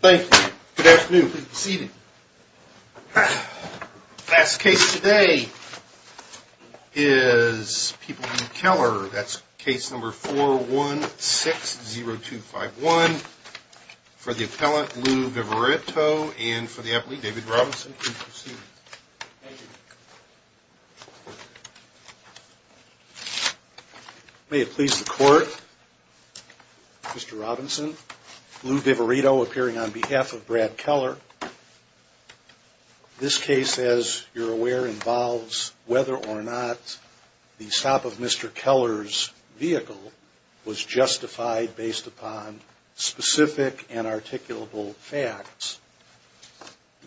Thank you. Good afternoon please be seated. The last case today is People v. Keller. That's case number 4160251. For the appellant Lou Viveretto and for the appliant David Robinson please be seated. Thank you. May it please the court, Mr. Robinson, Lou Viveretto appearing on behalf of Brad Keller. This case as you're aware involves whether or not the stop of Mr. Keller's vehicle was justified based upon specific and articulable facts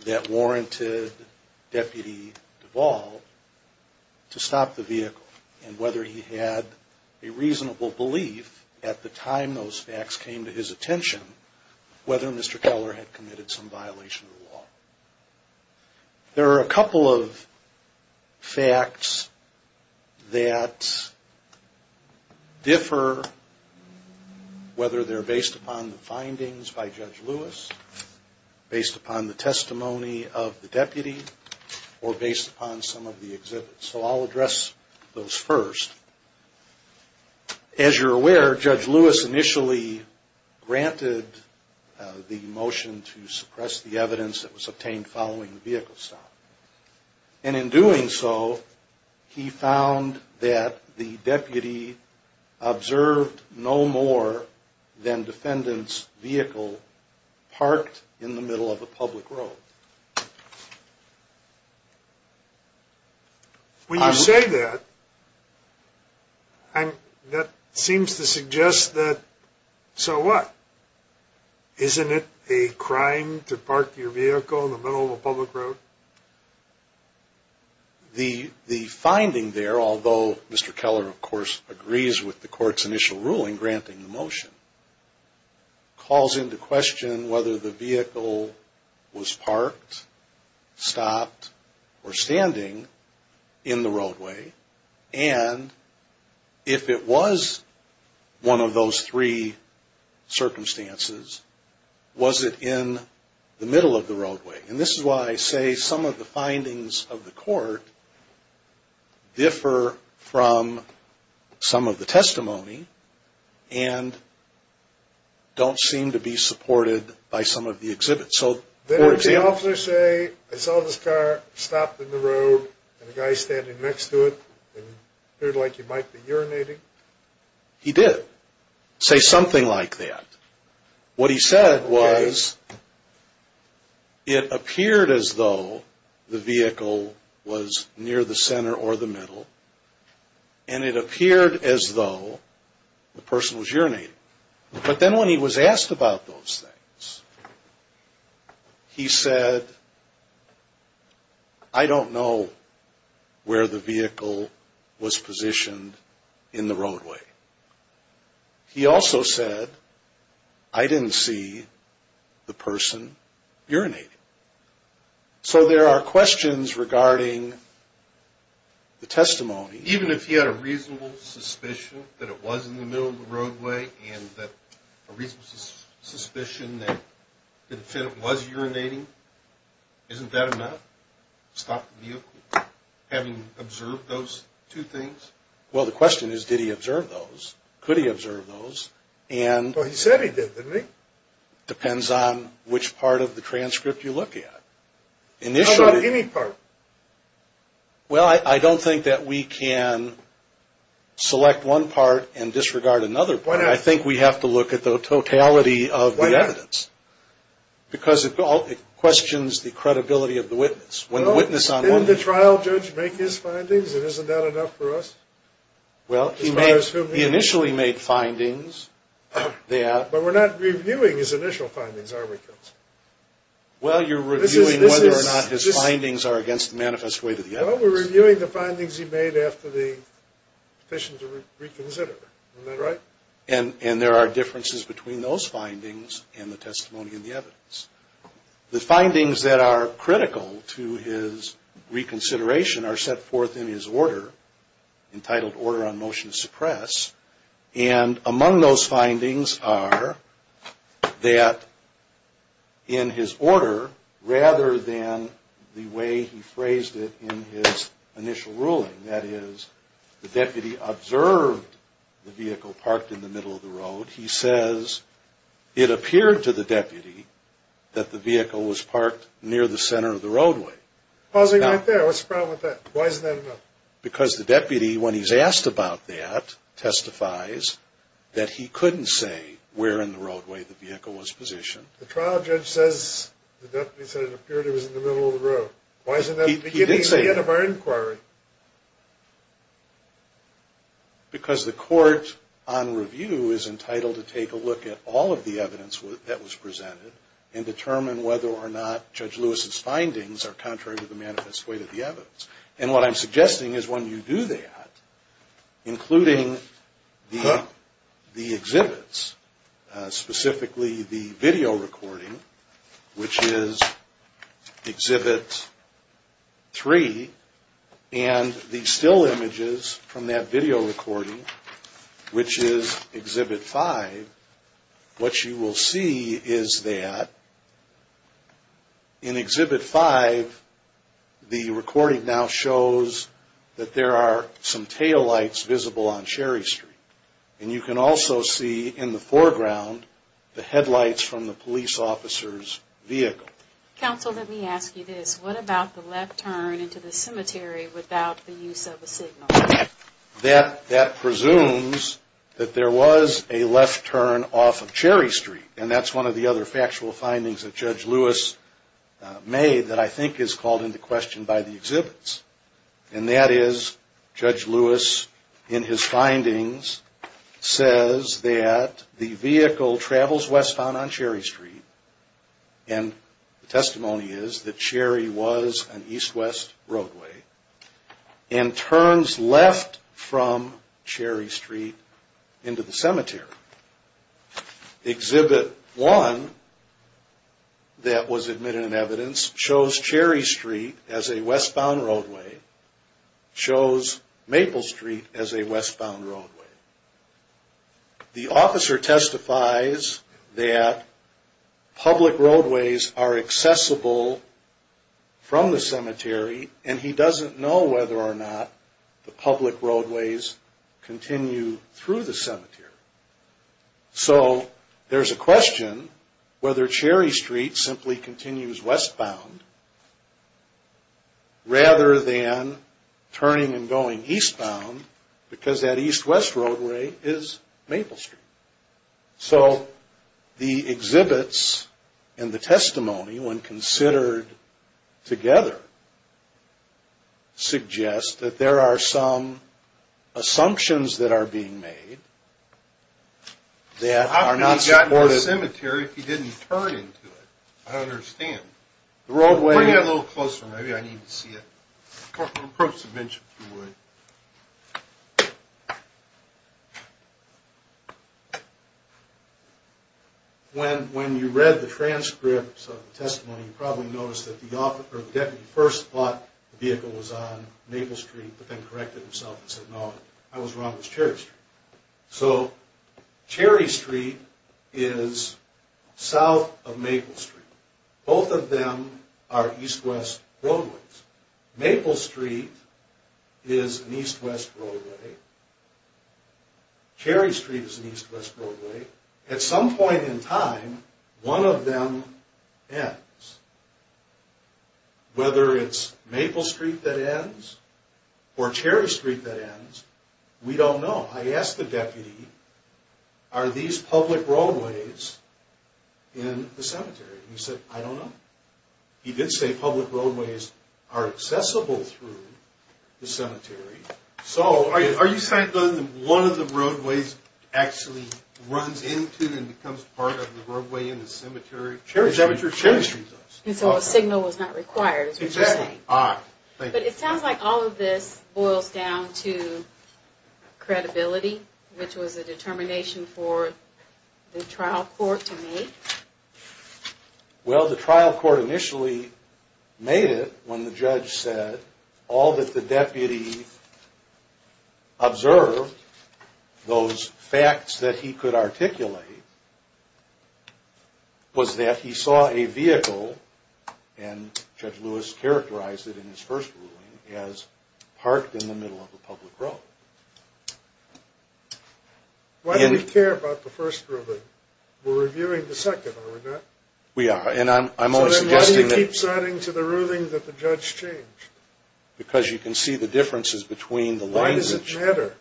that warranted Deputy Duvall to stop the vehicle and whether he had a reasonable belief at the time those facts came to his attention whether Mr. Keller had committed some violation of the law. There are a couple of facts that differ whether they're based upon the findings by Judge Lewis, based upon the testimony of the deputy, or based upon some of the exhibits. So I'll address those first. As you're aware Judge Lewis initially granted the motion to suppress the evidence that was obtained following the vehicle stop and in doing so he found that the deputy observed no more than defendant's vehicle parked in the middle of a public road. When you say that, that seems to suggest that, so what? Isn't it a crime to park your vehicle in the middle of a public road? So the finding there, although Mr. Keller of course agrees with the court's initial ruling granting the motion, calls into question whether the vehicle was parked, stopped, or standing in the roadway and if it was one of those three circumstances, was it in the middle of the roadway? And this is why I say some of the findings of the court differ from some of the testimony and don't seem to be supported by some of the exhibits. Did the officer say, I saw this car stopped in the road and a guy standing next to it and it appeared like he might be urinating? He said, I don't know where the vehicle was positioned in the roadway. He also said, I didn't see the person urinating. So there are questions regarding the testimony. Even if he had a reasonable suspicion that it was in the middle of the roadway and a reasonable suspicion that the defendant was urinating, isn't that enough? Stop the vehicle? Having observed those two things? Well the question is, did he observe those? Could he observe those? Well he said he did, didn't he? Depends on which part of the transcript you look at. How about any part? Well I don't think that we can select one part and disregard another part. I think we have to look at the totality of the evidence. Why not? Because it questions the credibility of the witness. Didn't the trial judge make his findings and isn't that enough for us? Well he initially made findings. But we're not reviewing his initial findings, are we? Well you're reviewing whether or not his findings are against the manifest way to the evidence. Well we're reviewing the findings he made after the petition to reconsider. Isn't that right? And there are differences between those findings and the testimony in the evidence. The findings that are critical to his reconsideration are set forth in his order, entitled Order on Motion to Suppress. And among those findings are that in his order, rather than the way he phrased it in his initial ruling, that is the deputy observed the vehicle parked in the middle of the road, he says it appeared to the deputy that the vehicle was parked near the center of the roadway. Pausing right there. What's the problem with that? Why isn't that enough? Because the deputy, when he's asked about that, testifies that he couldn't say where in the roadway the vehicle was positioned. The trial judge says the deputy said it appeared it was in the middle of the road. Why isn't that the beginning and the end of our inquiry? Because the court on review is entitled to take a look at all of the evidence that was presented and determine whether or not Judge Lewis's findings are contrary to the manifest way to the evidence. And what I'm suggesting is when you do that, including the exhibits, specifically the video recording, which is Exhibit 3, and the still images from that video recording, which is Exhibit 5, what you will see is that in Exhibit 5, the recording now shows that there are some taillights visible on Sherry Street. And you can also see in the foreground the headlights from the police officer's vehicle. Counsel, let me ask you this. What about the left turn into the cemetery without the use of a signal? That presumes that there was a left turn off of Sherry Street, and that's one of the other factual findings that Judge Lewis made that I think is called into question by the exhibits. And that is Judge Lewis, in his findings, says that the vehicle travels westbound on Sherry Street, and the testimony is that Sherry was an east-west roadway, and turns left from Sherry Street into the cemetery. Exhibit 1 that was admitted in evidence shows Sherry Street as a westbound roadway, shows Maple Street as a westbound roadway. The officer testifies that public roadways are accessible from the cemetery, and he doesn't know whether or not the public roadways continue through the cemetery. So there's a question whether Sherry Street simply continues westbound rather than turning and going eastbound, because that east-west roadway is Maple Street. So the exhibits and the testimony, when considered together, suggest that there are some assumptions that are being made How could he have gotten to the cemetery if he didn't turn into it? I don't understand. Bring it a little closer, maybe I need to see it. Approach the bench if you would. When you read the transcripts of the testimony, you probably noticed that the deputy first thought the vehicle was on Maple Street, but then corrected himself and said no, I was wrong, it was Sherry Street. So Sherry Street is south of Maple Street. Both of them are east-west roadways. Maple Street is an east-west roadway. Sherry Street is an east-west roadway. At some point in time, one of them ends. Whether it's Maple Street that ends or Sherry Street that ends, we don't know. I asked the deputy, are these public roadways in the cemetery? He said, I don't know. He did say public roadways are accessible through the cemetery. So are you saying that one of the roadways actually runs into and becomes part of the roadway in the cemetery? Sherry Street does. So a signal was not required, is what you're saying. But it sounds like all of this boils down to credibility, which was a determination for the trial court to make. Well, the trial court initially made it when the judge said all that the deputy observed, those facts that he could articulate, was that he saw a vehicle, and Judge Lewis characterized it in his first ruling, as parked in the middle of a public road. Why do we care about the first ruling? We're reviewing the second, are we not? We are. So then why do you keep citing to the ruling that the judge changed? Because you can see the differences between the language. Why does it matter?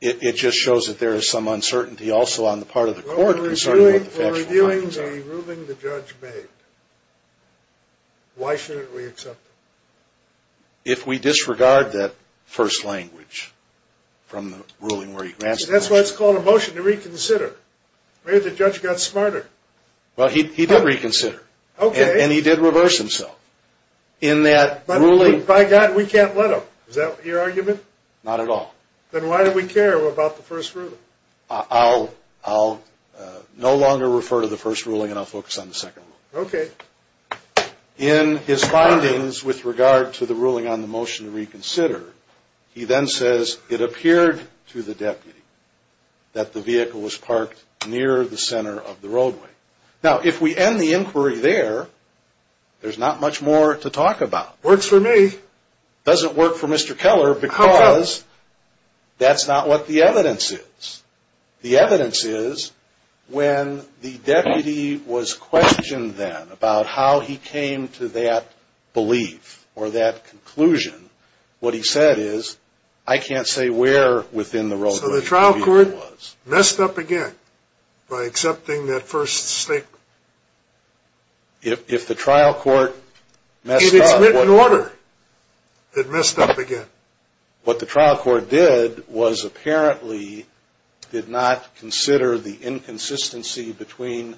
It just shows that there is some uncertainty also on the part of the court concerning what the factual findings are. We're reviewing the ruling the judge made. Why shouldn't we accept it? If we disregard that first language from the ruling where he grants the motion. That's why it's called a motion to reconsider. Maybe the judge got smarter. Well, he did reconsider. Okay. And he did reverse himself. By God, we can't let him. Is that your argument? Not at all. Then why do we care about the first ruling? I'll no longer refer to the first ruling, and I'll focus on the second ruling. Okay. In his findings with regard to the ruling on the motion to reconsider, he then says it appeared to the deputy that the vehicle was parked near the center of the roadway. Now, if we end the inquiry there, there's not much more to talk about. Works for me. Doesn't work for Mr. Keller because that's not what the evidence is. The evidence is when the deputy was questioned then about how he came to that belief or that conclusion, what he said is, I can't say where within the roadway the vehicle was. So the trial court messed up again by accepting that first statement? If the trial court messed up. If it's written order, it messed up again. But what the trial court did was apparently did not consider the inconsistency between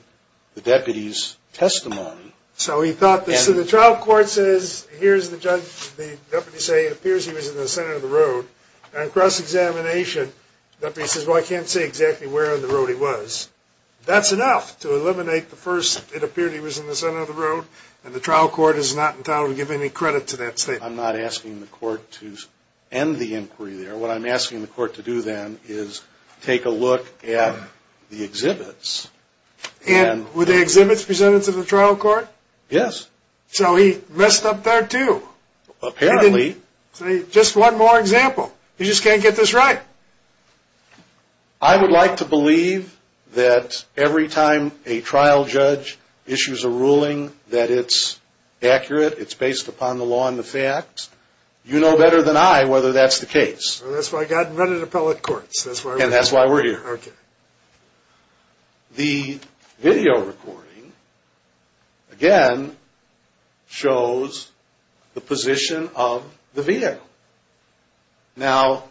the deputy's testimony. So he thought the trial court says, here's the judge, the deputy say it appears he was in the center of the road, and cross-examination, the deputy says, well, I can't say exactly where in the road he was. That's enough to eliminate the first, it appeared he was in the center of the road, and the trial court is not entitled to give any credit to that statement. I'm not asking the court to end the inquiry there. What I'm asking the court to do then is take a look at the exhibits. And were the exhibits presented to the trial court? Yes. So he messed up there too. Apparently. Just one more example. You just can't get this right. I would like to believe that every time a trial judge issues a ruling that it's accurate, it's based upon the law and the facts, you know better than I whether that's the case. That's why I got in front of the appellate courts. And that's why we're here. Okay. The video recording, again, shows the position of the vehicle. Now,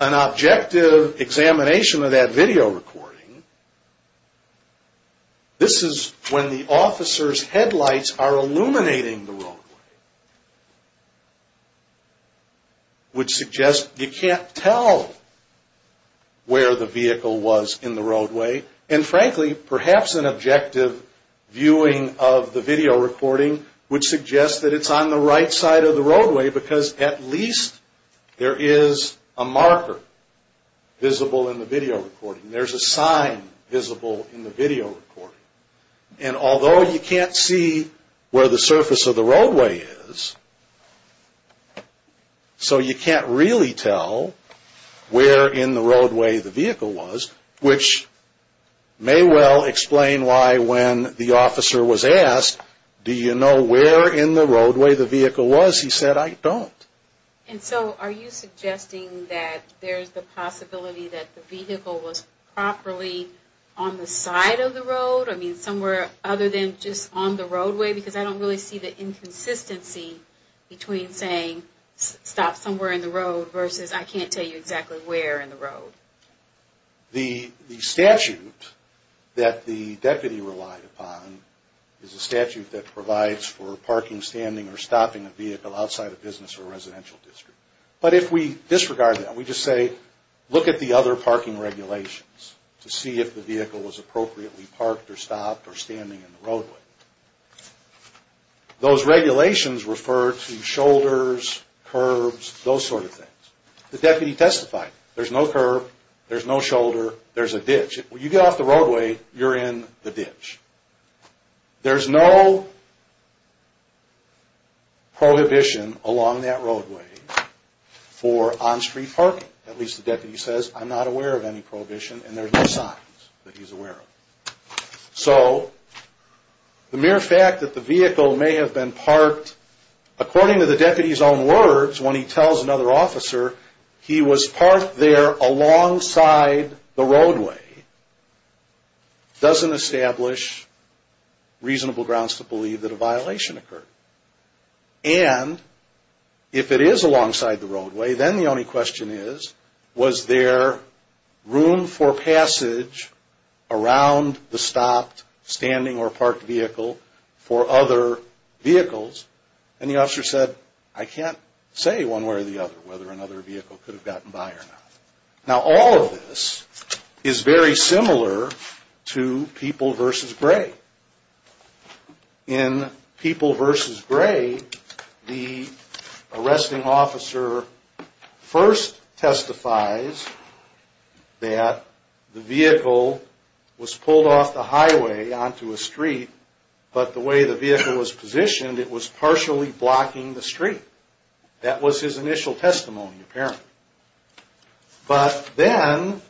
an objective examination of that video recording, this is when the officer's headlights are illuminating the roadway, which suggests you can't tell where the vehicle was in the roadway. And frankly, perhaps an objective viewing of the video recording would suggest that it's on the right side of the roadway because at least there is a marker visible in the video recording. There's a sign visible in the video recording. And although you can't see where the surface of the roadway is, so you can't really tell where in the roadway the vehicle was, which may well explain why when the officer was asked, do you know where in the roadway the vehicle was, he said, I don't. And so are you suggesting that there's the possibility that the vehicle was properly on the side of the road? I mean, somewhere other than just on the roadway? Because I don't really see the inconsistency between saying stop somewhere in the road versus I can't tell you exactly where in the road. The statute that the deputy relied upon is a statute that provides for parking, standing, or stopping a vehicle outside a business or residential district. But if we disregard that and we just say, look at the other parking regulations to see if the vehicle was appropriately parked or stopped or standing in the roadway, those regulations refer to shoulders, curbs, those sort of things. The deputy testified, there's no curb, there's no shoulder, there's a ditch. When you get off the roadway, you're in the ditch. There's no prohibition along that roadway for on-street parking. At least the deputy says, I'm not aware of any prohibition, and there's no signs that he's aware of. So the mere fact that the vehicle may have been parked, according to the deputy's own words when he tells another officer, he was parked there alongside the roadway, doesn't establish reasonable grounds to believe that a violation occurred. And if it is alongside the roadway, then the only question is, was there room for passage around the stopped, standing, or parked vehicle for other vehicles? And the officer said, I can't say one way or the other whether another vehicle could have gotten by or not. Now, all of this is very similar to People v. Gray. In People v. Gray, the arresting officer first testifies that the vehicle was pulled off the highway onto a street, but the way the vehicle was positioned, it was partially blocking the street. That was his initial testimony, apparently. But then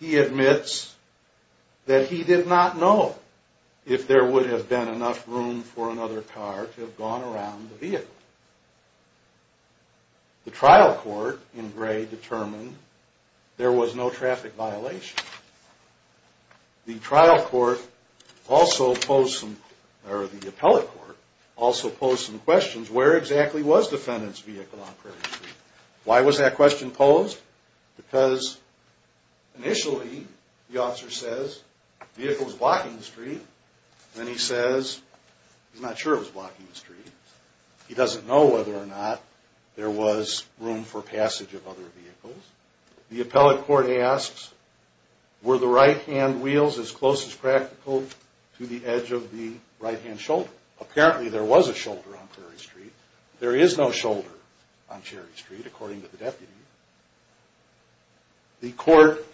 he admits that he did not know if there would have been enough room for another car to have gone around the vehicle. The trial court in Gray determined there was no traffic violation. The appellate court also posed some questions. Where exactly was the defendant's vehicle on Prairie Street? Why was that question posed? Because initially, the officer says, the vehicle was blocking the street. Then he says, he's not sure it was blocking the street. He doesn't know whether or not there was room for passage of other vehicles. The appellate court asks, were the right-hand wheels as close as practical to the edge of the right-hand shoulder? Apparently, there was a shoulder on Prairie Street. There is no shoulder on Cherry Street, according to the deputy. The court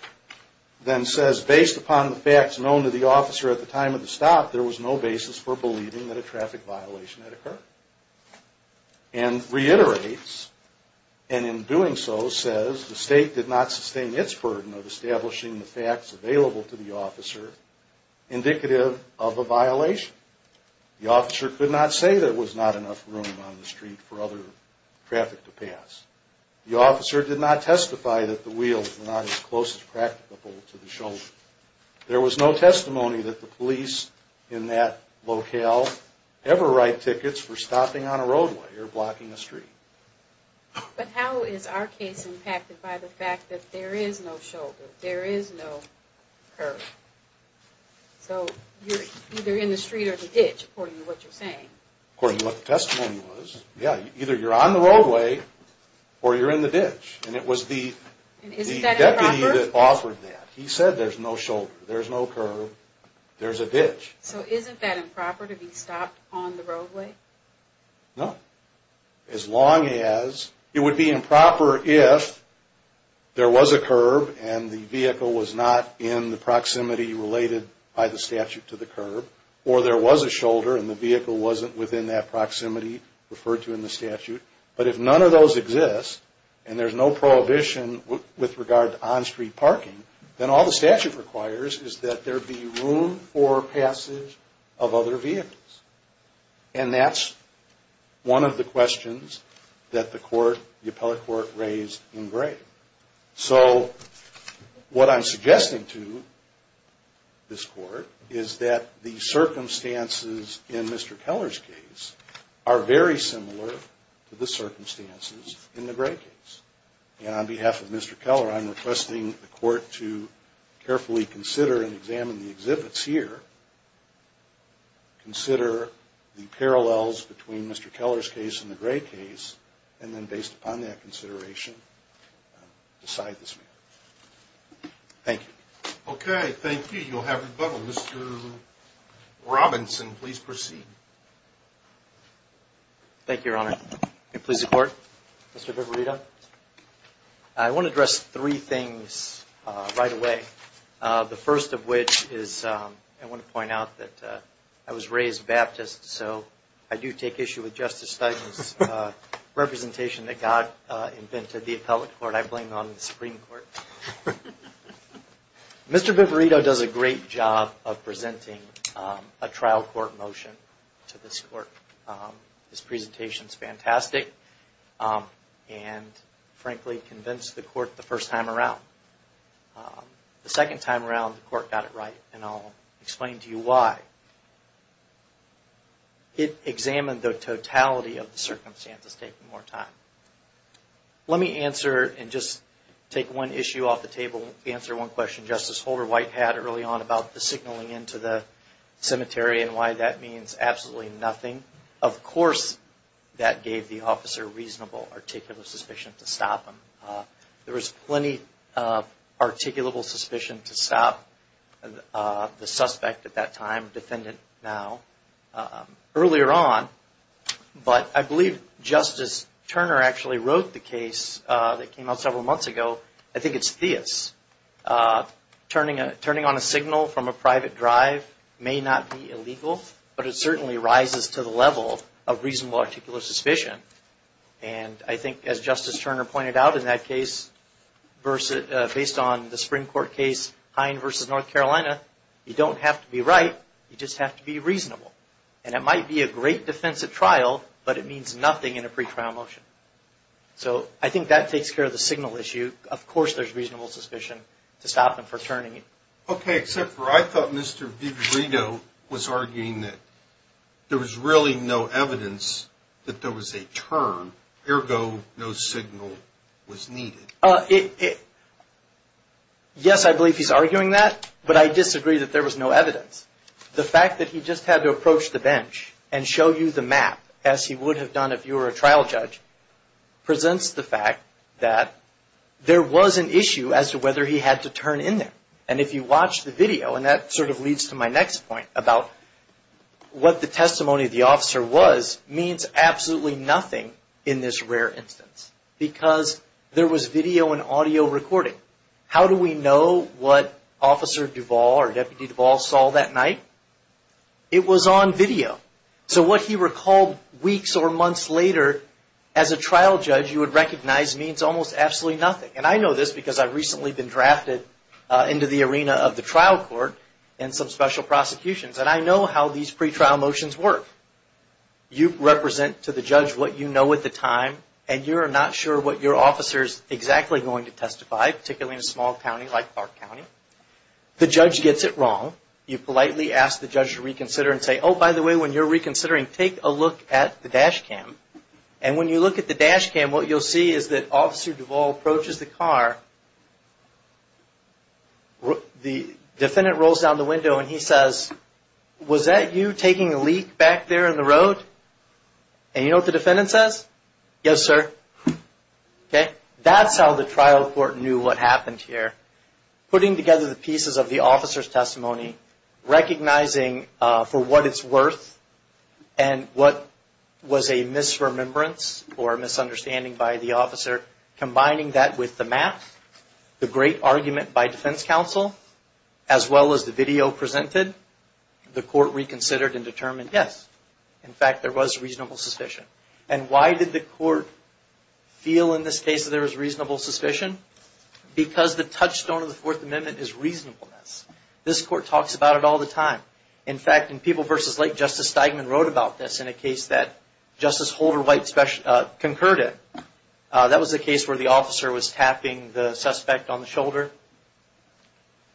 then says, based upon the facts known to the officer at the time of the stop, there was no basis for believing that a traffic violation had occurred. And reiterates, and in doing so says, the state did not sustain its burden of establishing the facts available to the officer indicative of a violation. The officer could not say there was not enough room on the street for other traffic to pass. The officer did not testify that the wheels were not as close as practical to the shoulder. There was no testimony that the police in that locale ever write tickets for stopping on a roadway or blocking a street. But how is our case impacted by the fact that there is no shoulder, there is no curb? So, you're either in the street or the ditch, according to what you're saying. According to what the testimony was, yeah, either you're on the roadway or you're in the ditch. And it was the deputy that offered that. He said there's no shoulder, there's no curb, there's a ditch. So, isn't that improper to be stopped on the roadway? No. As long as, it would be improper if there was a curb and the vehicle was not in the proximity related by the statute to the curb. Or there was a shoulder and the vehicle wasn't within that proximity referred to in the statute. But if none of those exist, and there's no prohibition with regard to on-street parking, then all the statute requires is that there be room for passage of other vehicles. And that's one of the questions that the court, the appellate court, raised in Gray. So, what I'm suggesting to this court is that the circumstances in Mr. Keller's case are very similar to the circumstances in the Gray case. And on behalf of Mr. Keller, I'm requesting the court to carefully consider and examine the exhibits here, consider the parallels between Mr. Keller's case and the Gray case, and then based upon that consideration, decide this matter. Thank you. Okay, thank you. You'll have rebuttal. Mr. Robinson, please proceed. Thank you, Your Honor. May it please the court. Mr. Viverito, I want to address three things right away. The first of which is I want to point out that I was raised Baptist, so I do take issue with Justice Stuyvesant's representation that God invented the appellate court. I blame it on the Supreme Court. Mr. Viverito does a great job of presenting a trial court motion to this court. His presentation is fantastic and, frankly, convinced the court the first time around. The second time around, the court got it right, and I'll explain to you why. It examined the totality of the circumstances, taking more time. Let me answer and just take one issue off the table, answer one question Justice Holder-White had early on about the signaling into the cemetery and why that means absolutely nothing. Of course, that gave the officer reasonable, articulable suspicion to stop him. There was plenty of articulable suspicion to stop the suspect at that time, defendant now, earlier on. But I believe Justice Turner actually wrote the case that came out several months ago. I think it's Theus. Turning on a signal from a private drive may not be illegal, but it certainly rises to the level of reasonable articulable suspicion. I think, as Justice Turner pointed out in that case, based on the Supreme Court case, Hine v. North Carolina, you don't have to be right, you just have to be reasonable. It might be a great defensive trial, but it means nothing in a pretrial motion. So I think that takes care of the signal issue. Of course, there's reasonable suspicion to stop him for turning. Okay, except for I thought Mr. Viverito was arguing that there was really no evidence that there was a turn, ergo no signal was needed. Yes, I believe he's arguing that, but I disagree that there was no evidence. The fact that he just had to approach the bench and show you the map, as he would have done if you were a trial judge, presents the fact that there was an issue as to whether he had to turn in there. And if you watch the video, and that sort of leads to my next point about what the testimony of the officer was, means absolutely nothing in this rare instance, because there was video and audio recording. How do we know what Officer Duvall or Deputy Duvall saw that night? It was on video. So what he recalled weeks or months later, as a trial judge, you would recognize means almost absolutely nothing. And I know this because I've recently been drafted into the arena of the trial court in some special prosecutions, and I know how these pretrial motions work. You represent to the judge what you know at the time, and you're not sure what your officer's exactly going to testify, particularly in a small county like Clark County. The judge gets it wrong. You politely ask the judge to reconsider and say, oh, by the way, when you're reconsidering, take a look at the dash cam. And when you look at the dash cam, what you'll see is that Officer Duvall approaches the car. The defendant rolls down the window and he says, was that you taking a leak back there in the road? And you know what the defendant says? Yes, sir. That's how the trial court knew what happened here. Putting together the pieces of the officer's testimony, recognizing for what it's worth and what was a misremembrance or a misunderstanding by the officer, combining that with the map, the great argument by defense counsel, as well as the video presented, the court reconsidered and determined, yes. In fact, there was reasonable suspicion. And why did the court feel in this case that there was reasonable suspicion? Because the touchstone of the Fourth Amendment is reasonableness. This court talks about it all the time. In fact, in People v. Lake, Justice Steigman wrote about this in a case that Justice Holder White concurred it. That was a case where the officer was tapping the suspect on the shoulder.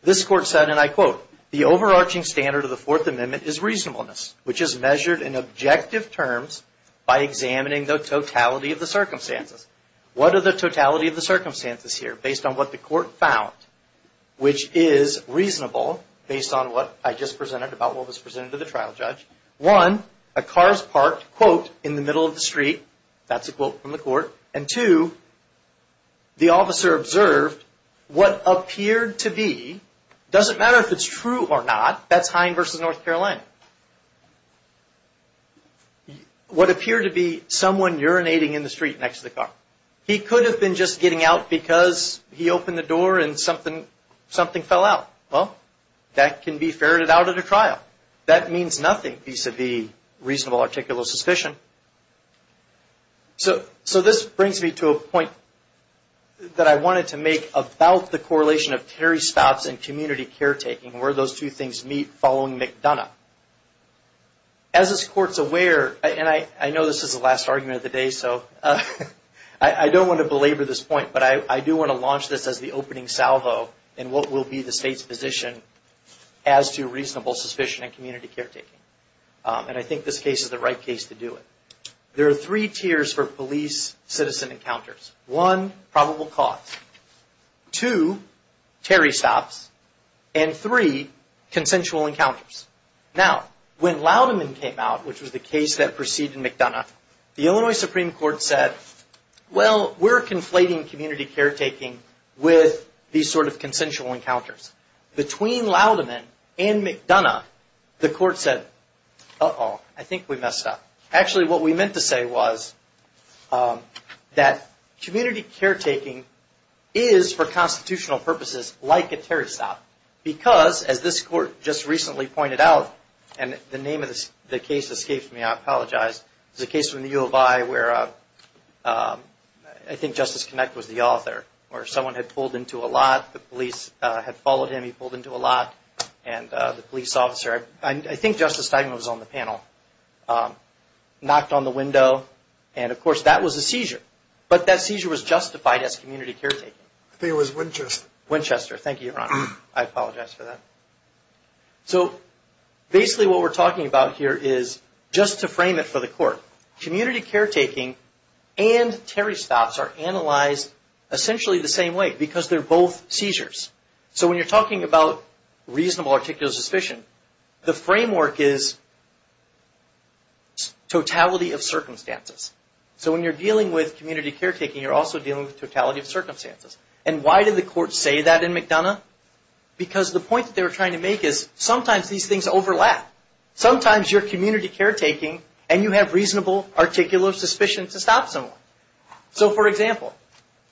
This court said, and I quote, The overarching standard of the Fourth Amendment is reasonableness, which is measured in objective terms by examining the totality of the circumstances. What are the totality of the circumstances here based on what the court found, which is reasonable based on what I just presented about what was presented to the trial judge? One, a car is parked, quote, in the middle of the street. That's a quote from the court. And two, the officer observed what appeared to be, doesn't matter if it's true or not, that's Hine v. North Carolina, what appeared to be someone urinating in the street next to the car. He could have been just getting out because he opened the door and something fell out. Well, that can be ferreted out at a trial. That means nothing vis-a-vis reasonable articulal suspicion. So this brings me to a point that I wanted to make about the correlation of Terry stops and community caretaking, where those two things meet following McDonough. As this court's aware, and I know this is the last argument of the day, so I don't want to belabor this point, but I do want to launch this as the opening salvo in what will be the state's position as to reasonable suspicion in community caretaking. And I think this case is the right case to do it. There are three tiers for police-citizen encounters. One, probable cause. Two, Terry stops. And three, consensual encounters. Now, when Louderman came out, which was the case that preceded McDonough, the Illinois Supreme Court said, well, we're conflating community caretaking with these sort of consensual encounters. Between Louderman and McDonough, the court said, uh-oh, I think we messed up. Actually, what we meant to say was that community caretaking is, for constitutional purposes, like a Terry stop. Because, as this court just recently pointed out, and the name of the case escapes me, I apologize. It's a case from the U of I where, I think Justice Kinect was the author, where someone had pulled into a lot, the police had followed him, he pulled into a lot, and the police officer, I think Justice Steigman was on the panel, knocked on the window, and, of course, that was a seizure. But that seizure was justified as community caretaking. I think it was Winchester. Winchester. Thank you, Your Honor. I apologize for that. So, basically what we're talking about here is, just to frame it for the court, community caretaking and Terry stops are analyzed essentially the same way, because they're both seizures. So, when you're talking about reasonable articular suspicion, the framework is totality of circumstances. So, when you're dealing with community caretaking, you're also dealing with totality of circumstances. And why did the court say that in McDonough? Because the point that they were trying to make is, sometimes these things overlap. Sometimes you're community caretaking and you have reasonable articular suspicion to stop someone. So, for example,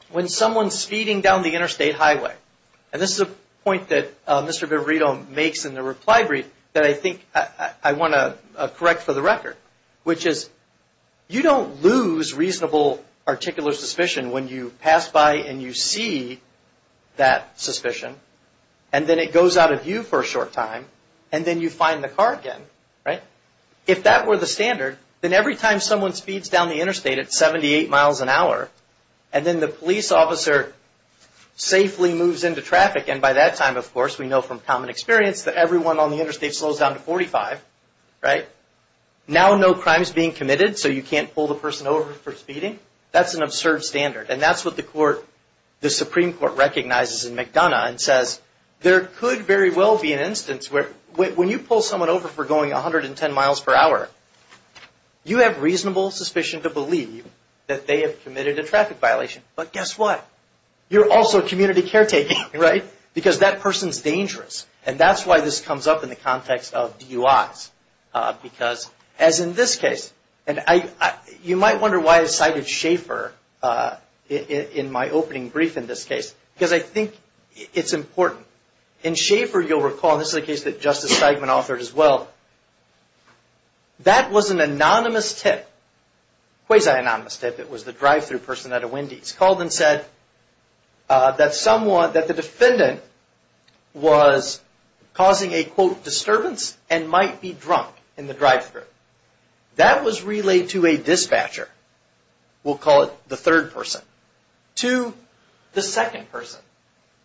when someone's speeding down the interstate highway, and this is a point that Mr. Viverito makes in the reply brief that I think I want to correct for the record, which is, you don't lose reasonable articular suspicion when you pass by and you see that suspicion, and then it goes out of view for a short time, and then you find the car again, right? If that were the standard, then every time someone speeds down the interstate at 78 miles an hour, and then the police officer safely moves into traffic, and by that time, of course, we know from common experience that everyone on the interstate slows down to 45, right? Now, no crime is being committed, so you can't pull the person over for speeding. That's an absurd standard, and that's what the Supreme Court recognizes in McDonough and says, there could very well be an instance where, when you pull someone over for going 110 miles per hour, you have reasonable suspicion to believe that they have committed a traffic violation. But guess what? You're also community caretaking, right? Because that person's dangerous, and that's why this comes up in the context of DUIs. Because, as in this case, and you might wonder why I cited Schaefer in my opening brief in this case, because I think it's important. In Schaefer, you'll recall, and this is a case that Justice Steigman authored as well, that was an anonymous tip, quasi-anonymous tip. It was the drive-through person at a Wendy's, called and said that the defendant was causing a, quote, don't be drunk in the drive-through. That was relayed to a dispatcher, we'll call it the third person, to the second person,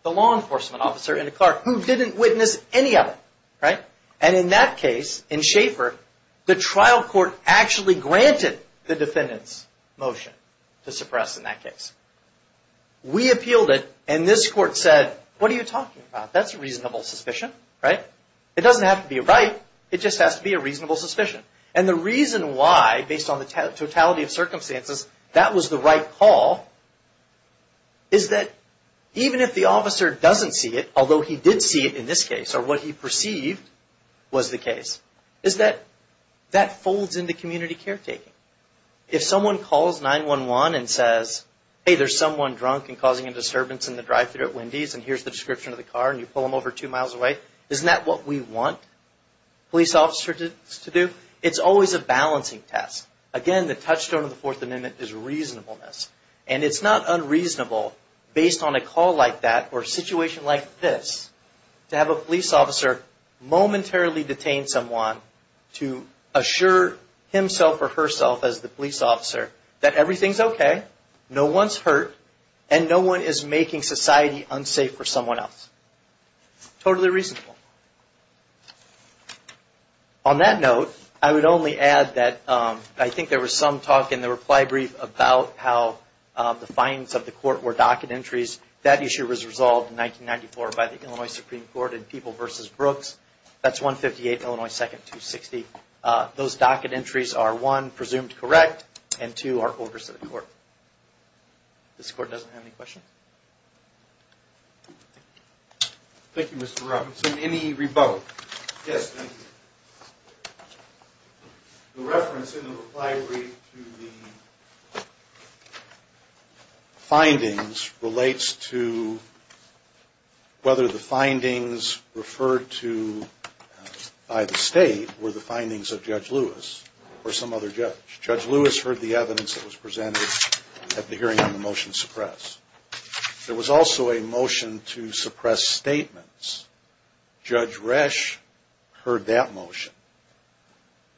the law enforcement officer in the car, who didn't witness any of it, right? And in that case, in Schaefer, the trial court actually granted the defendant's motion to suppress in that case. We appealed it, and this court said, what are you talking about? That's a reasonable suspicion, right? It doesn't have to be right, it just has to be a reasonable suspicion. And the reason why, based on the totality of circumstances, that was the right call, is that even if the officer doesn't see it, although he did see it in this case, or what he perceived was the case, is that that folds into community caretaking. If someone calls 911 and says, hey, there's someone drunk and causing a disturbance in the drive-through at Wendy's, and here's the description of the car, and you pull them over two miles away, isn't that what we want police officers to do? It's always a balancing test. Again, the touchstone of the Fourth Amendment is reasonableness. And it's not unreasonable, based on a call like that, or a situation like this, to have a police officer momentarily detain someone to assure himself or herself, as the police officer, that everything's okay, no one's hurt, and no one is making society unsafe for someone else. Totally reasonable. On that note, I would only add that I think there was some talk in the reply brief about how the fines of the court were docket entries. That issue was resolved in 1994 by the Illinois Supreme Court in People v. Brooks. That's 158 Illinois 2nd, 260. Those docket entries are, one, presumed correct, and two, are orders to the court. This court doesn't have any questions? Thank you, Mr. Robinson. Any rebuttal? Yes, thank you. The reference in the reply brief to the findings relates to whether the findings referred to by the state were the findings of Judge Lewis or some other judge. Judge Lewis heard the evidence that was presented at the hearing on the motion to suppress. There was also a motion to suppress statements. Judge Resch heard that motion.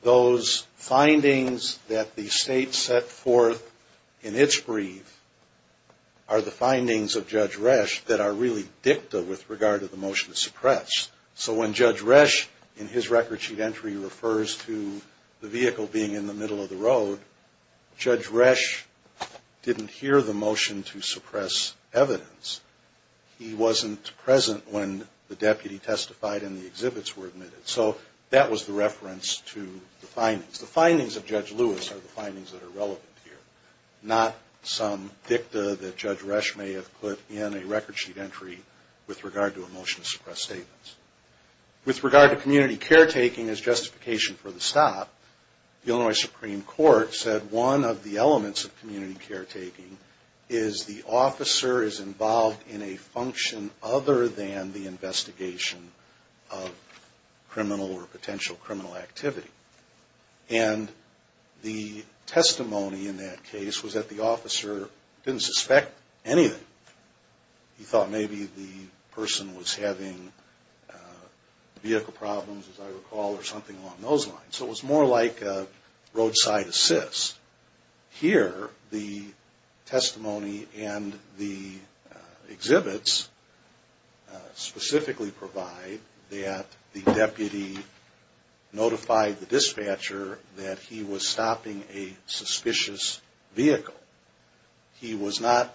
Those findings that the state set forth in its brief are the findings of Judge Resch that are really dicta with regard to the motion to suppress. So when Judge Resch, in his record sheet entry, refers to the vehicle being in the middle of the road, Judge Resch didn't hear the motion to suppress evidence. He wasn't present when the deputy testified and the exhibits were admitted. So that was the reference to the findings. The findings of Judge Lewis are the findings that are relevant here, not some dicta that Judge Resch may have put in a record sheet entry with regard to a motion to suppress statements. With regard to community caretaking as justification for the stop, the Illinois Supreme Court said one of the elements of community caretaking is the officer is involved in a function other than the investigation of criminal or potential criminal activity. And the testimony in that case was that the officer didn't suspect anything. He thought maybe the person was having vehicle problems, as I recall, or something along those lines. So it was more like a roadside assist. Here, the testimony and the exhibits specifically provide that the deputy notified the dispatcher that he was stopping a suspicious vehicle. He was not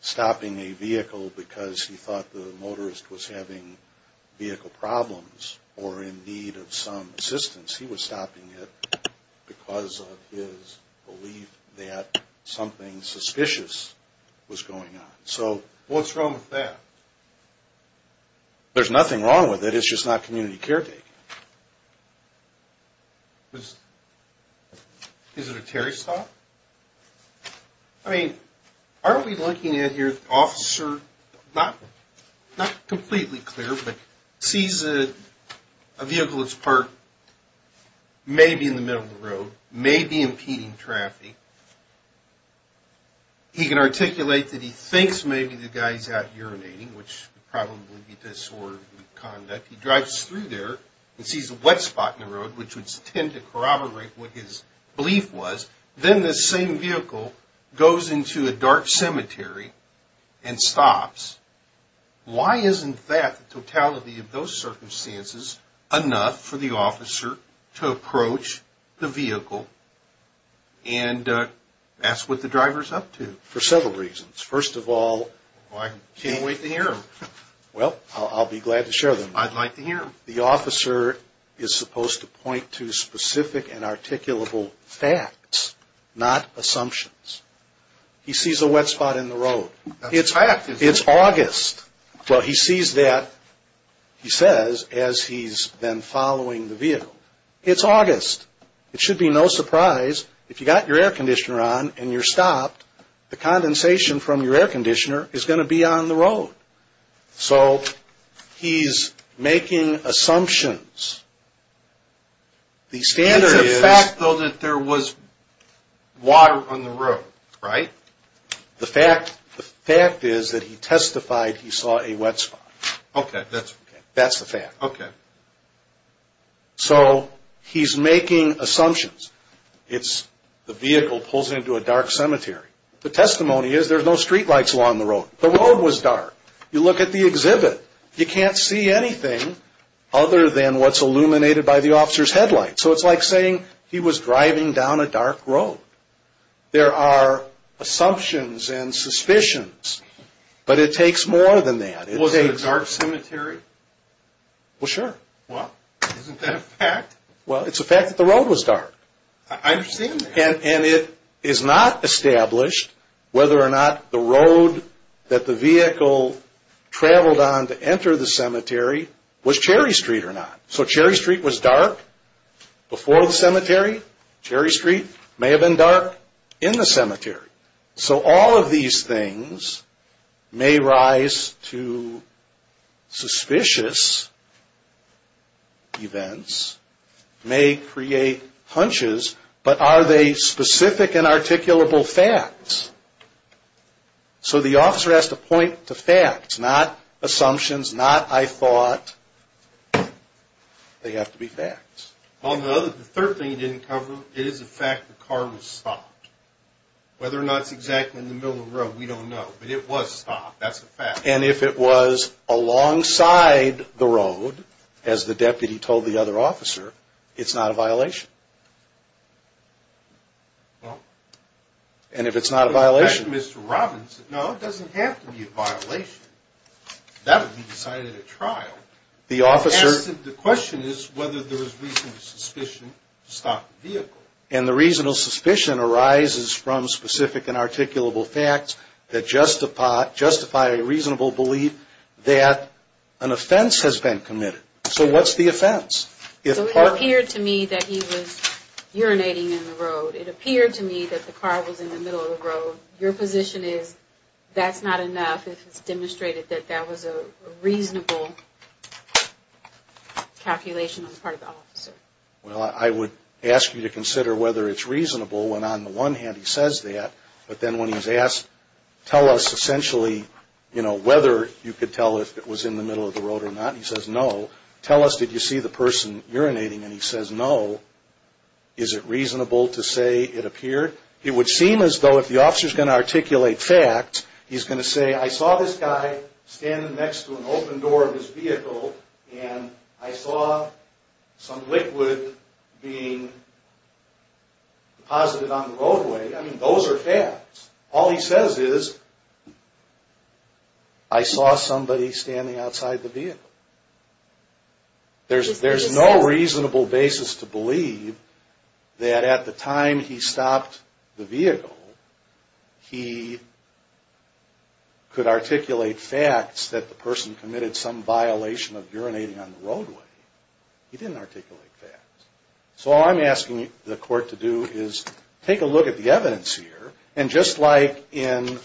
stopping a vehicle because he thought the motorist was having vehicle problems or in need of some assistance. He was stopping it because of his belief that something suspicious was going on. So what's wrong with that? There's nothing wrong with it. It's just not community caretaking. Is it a Terry stop? I mean, aren't we looking at here, the officer, not maybe in the middle of the road, maybe impeding traffic. He can articulate that he thinks maybe the guy's out urinating, which would probably be disorderly conduct. He drives through there and sees a wet spot in the road, which would tend to corroborate what his belief was. Then the same vehicle goes into a dark cemetery and stops. Why isn't that, the totality of those circumstances, enough for the officer to approach the vehicle and ask what the driver's up to? For several reasons. First of all, I can't wait to hear them. Well, I'll be glad to share them. I'd like to hear them. The officer is supposed to point to specific and articulable facts, not assumptions. He sees a wet spot in the road. It's August. Well, he sees that, he says, as he's been following the vehicle. It's August. It should be no surprise if you got your air conditioner on and you're stopped, the condensation from your air conditioner is going to be on the road. So he's making assumptions. It's a fact, though, that there was water on the road, right? The fact is that he testified he saw a wet spot. Okay. That's the fact. So he's making assumptions. The vehicle pulls into a dark cemetery. The testimony is there's no streetlights along the road. The road was illuminated by the officer's headlight. So it's like saying he was driving down a dark road. There are assumptions and suspicions, but it takes more than that. Was it a dark cemetery? Well, sure. Isn't that a fact? Well, it's a fact that the road was dark. I understand that. And it is not established whether or not the road that the vehicle traveled on to enter the cemetery was Cherry Street or not. So Cherry Street was dark before the cemetery. Cherry Street may have been dark in the cemetery. So all of these things may rise to suspicious events, may create hunches, but are they specific and are they facts? Not assumptions, not I thought. They have to be facts. The third thing he didn't cover, it is a fact the car was stopped. Whether or not it's exactly in the middle of the road, we don't know, but it was stopped. That's a fact. And if it was alongside the road, as the deputy told the other officer, it's not a violation. And if it's not a violation? In fact, Mr. Robbins said, no, it doesn't have to be a violation. That would be decided at trial. The question is whether there is reasonable suspicion to stop the vehicle. And the reasonable suspicion arises from specific and articulable facts that justify a reasonable belief that an offender is guilty of the offense. So it appeared to me that he was urinating in the road. It appeared to me that the car was in the middle of the road. Your position is that's not enough if it's demonstrated that that was a reasonable calculation on the part of the officer. Well, I would ask you to consider whether it's reasonable when on the one hand he says that, but then when he's asked, tell us essentially whether you could tell if it was in the middle of the road or not. He says, no. Tell us, did you see the person urinating? And he says, no. Is it reasonable to say it appeared? It would seem as though if the officer's going to articulate facts, he's going to say, I saw this guy standing next to an open door of his vehicle and I saw some liquid being deposited on the roadway. I mean, those are facts. All he says is, I saw somebody standing outside the vehicle. There's no reasonable basis to believe that at the time he stopped the vehicle, he could articulate facts that the person committed some violation of urinating on the roadway. He didn't articulate facts. So all I'm asking the court to do is take a look at the evidence here, and just like in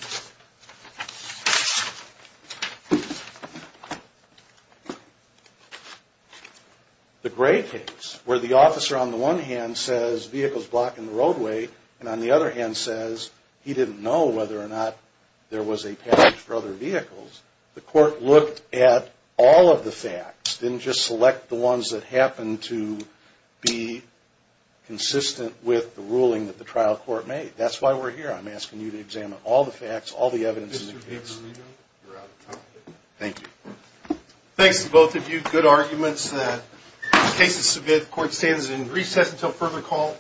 the Gray case, where the officer on the one hand says vehicle's blocking the roadway, and on the other hand says he didn't know whether or not there was a passage for other vehicles, the court looked at all of the facts, didn't just select the ones that happened to be consistent with the ruling that the trial court made. That's why we're here. I'm asking you to examine all the facts, all the evidence. Thank you. Thanks to both of you. Good arguments. The case is submitted. The court stands in recess until further call.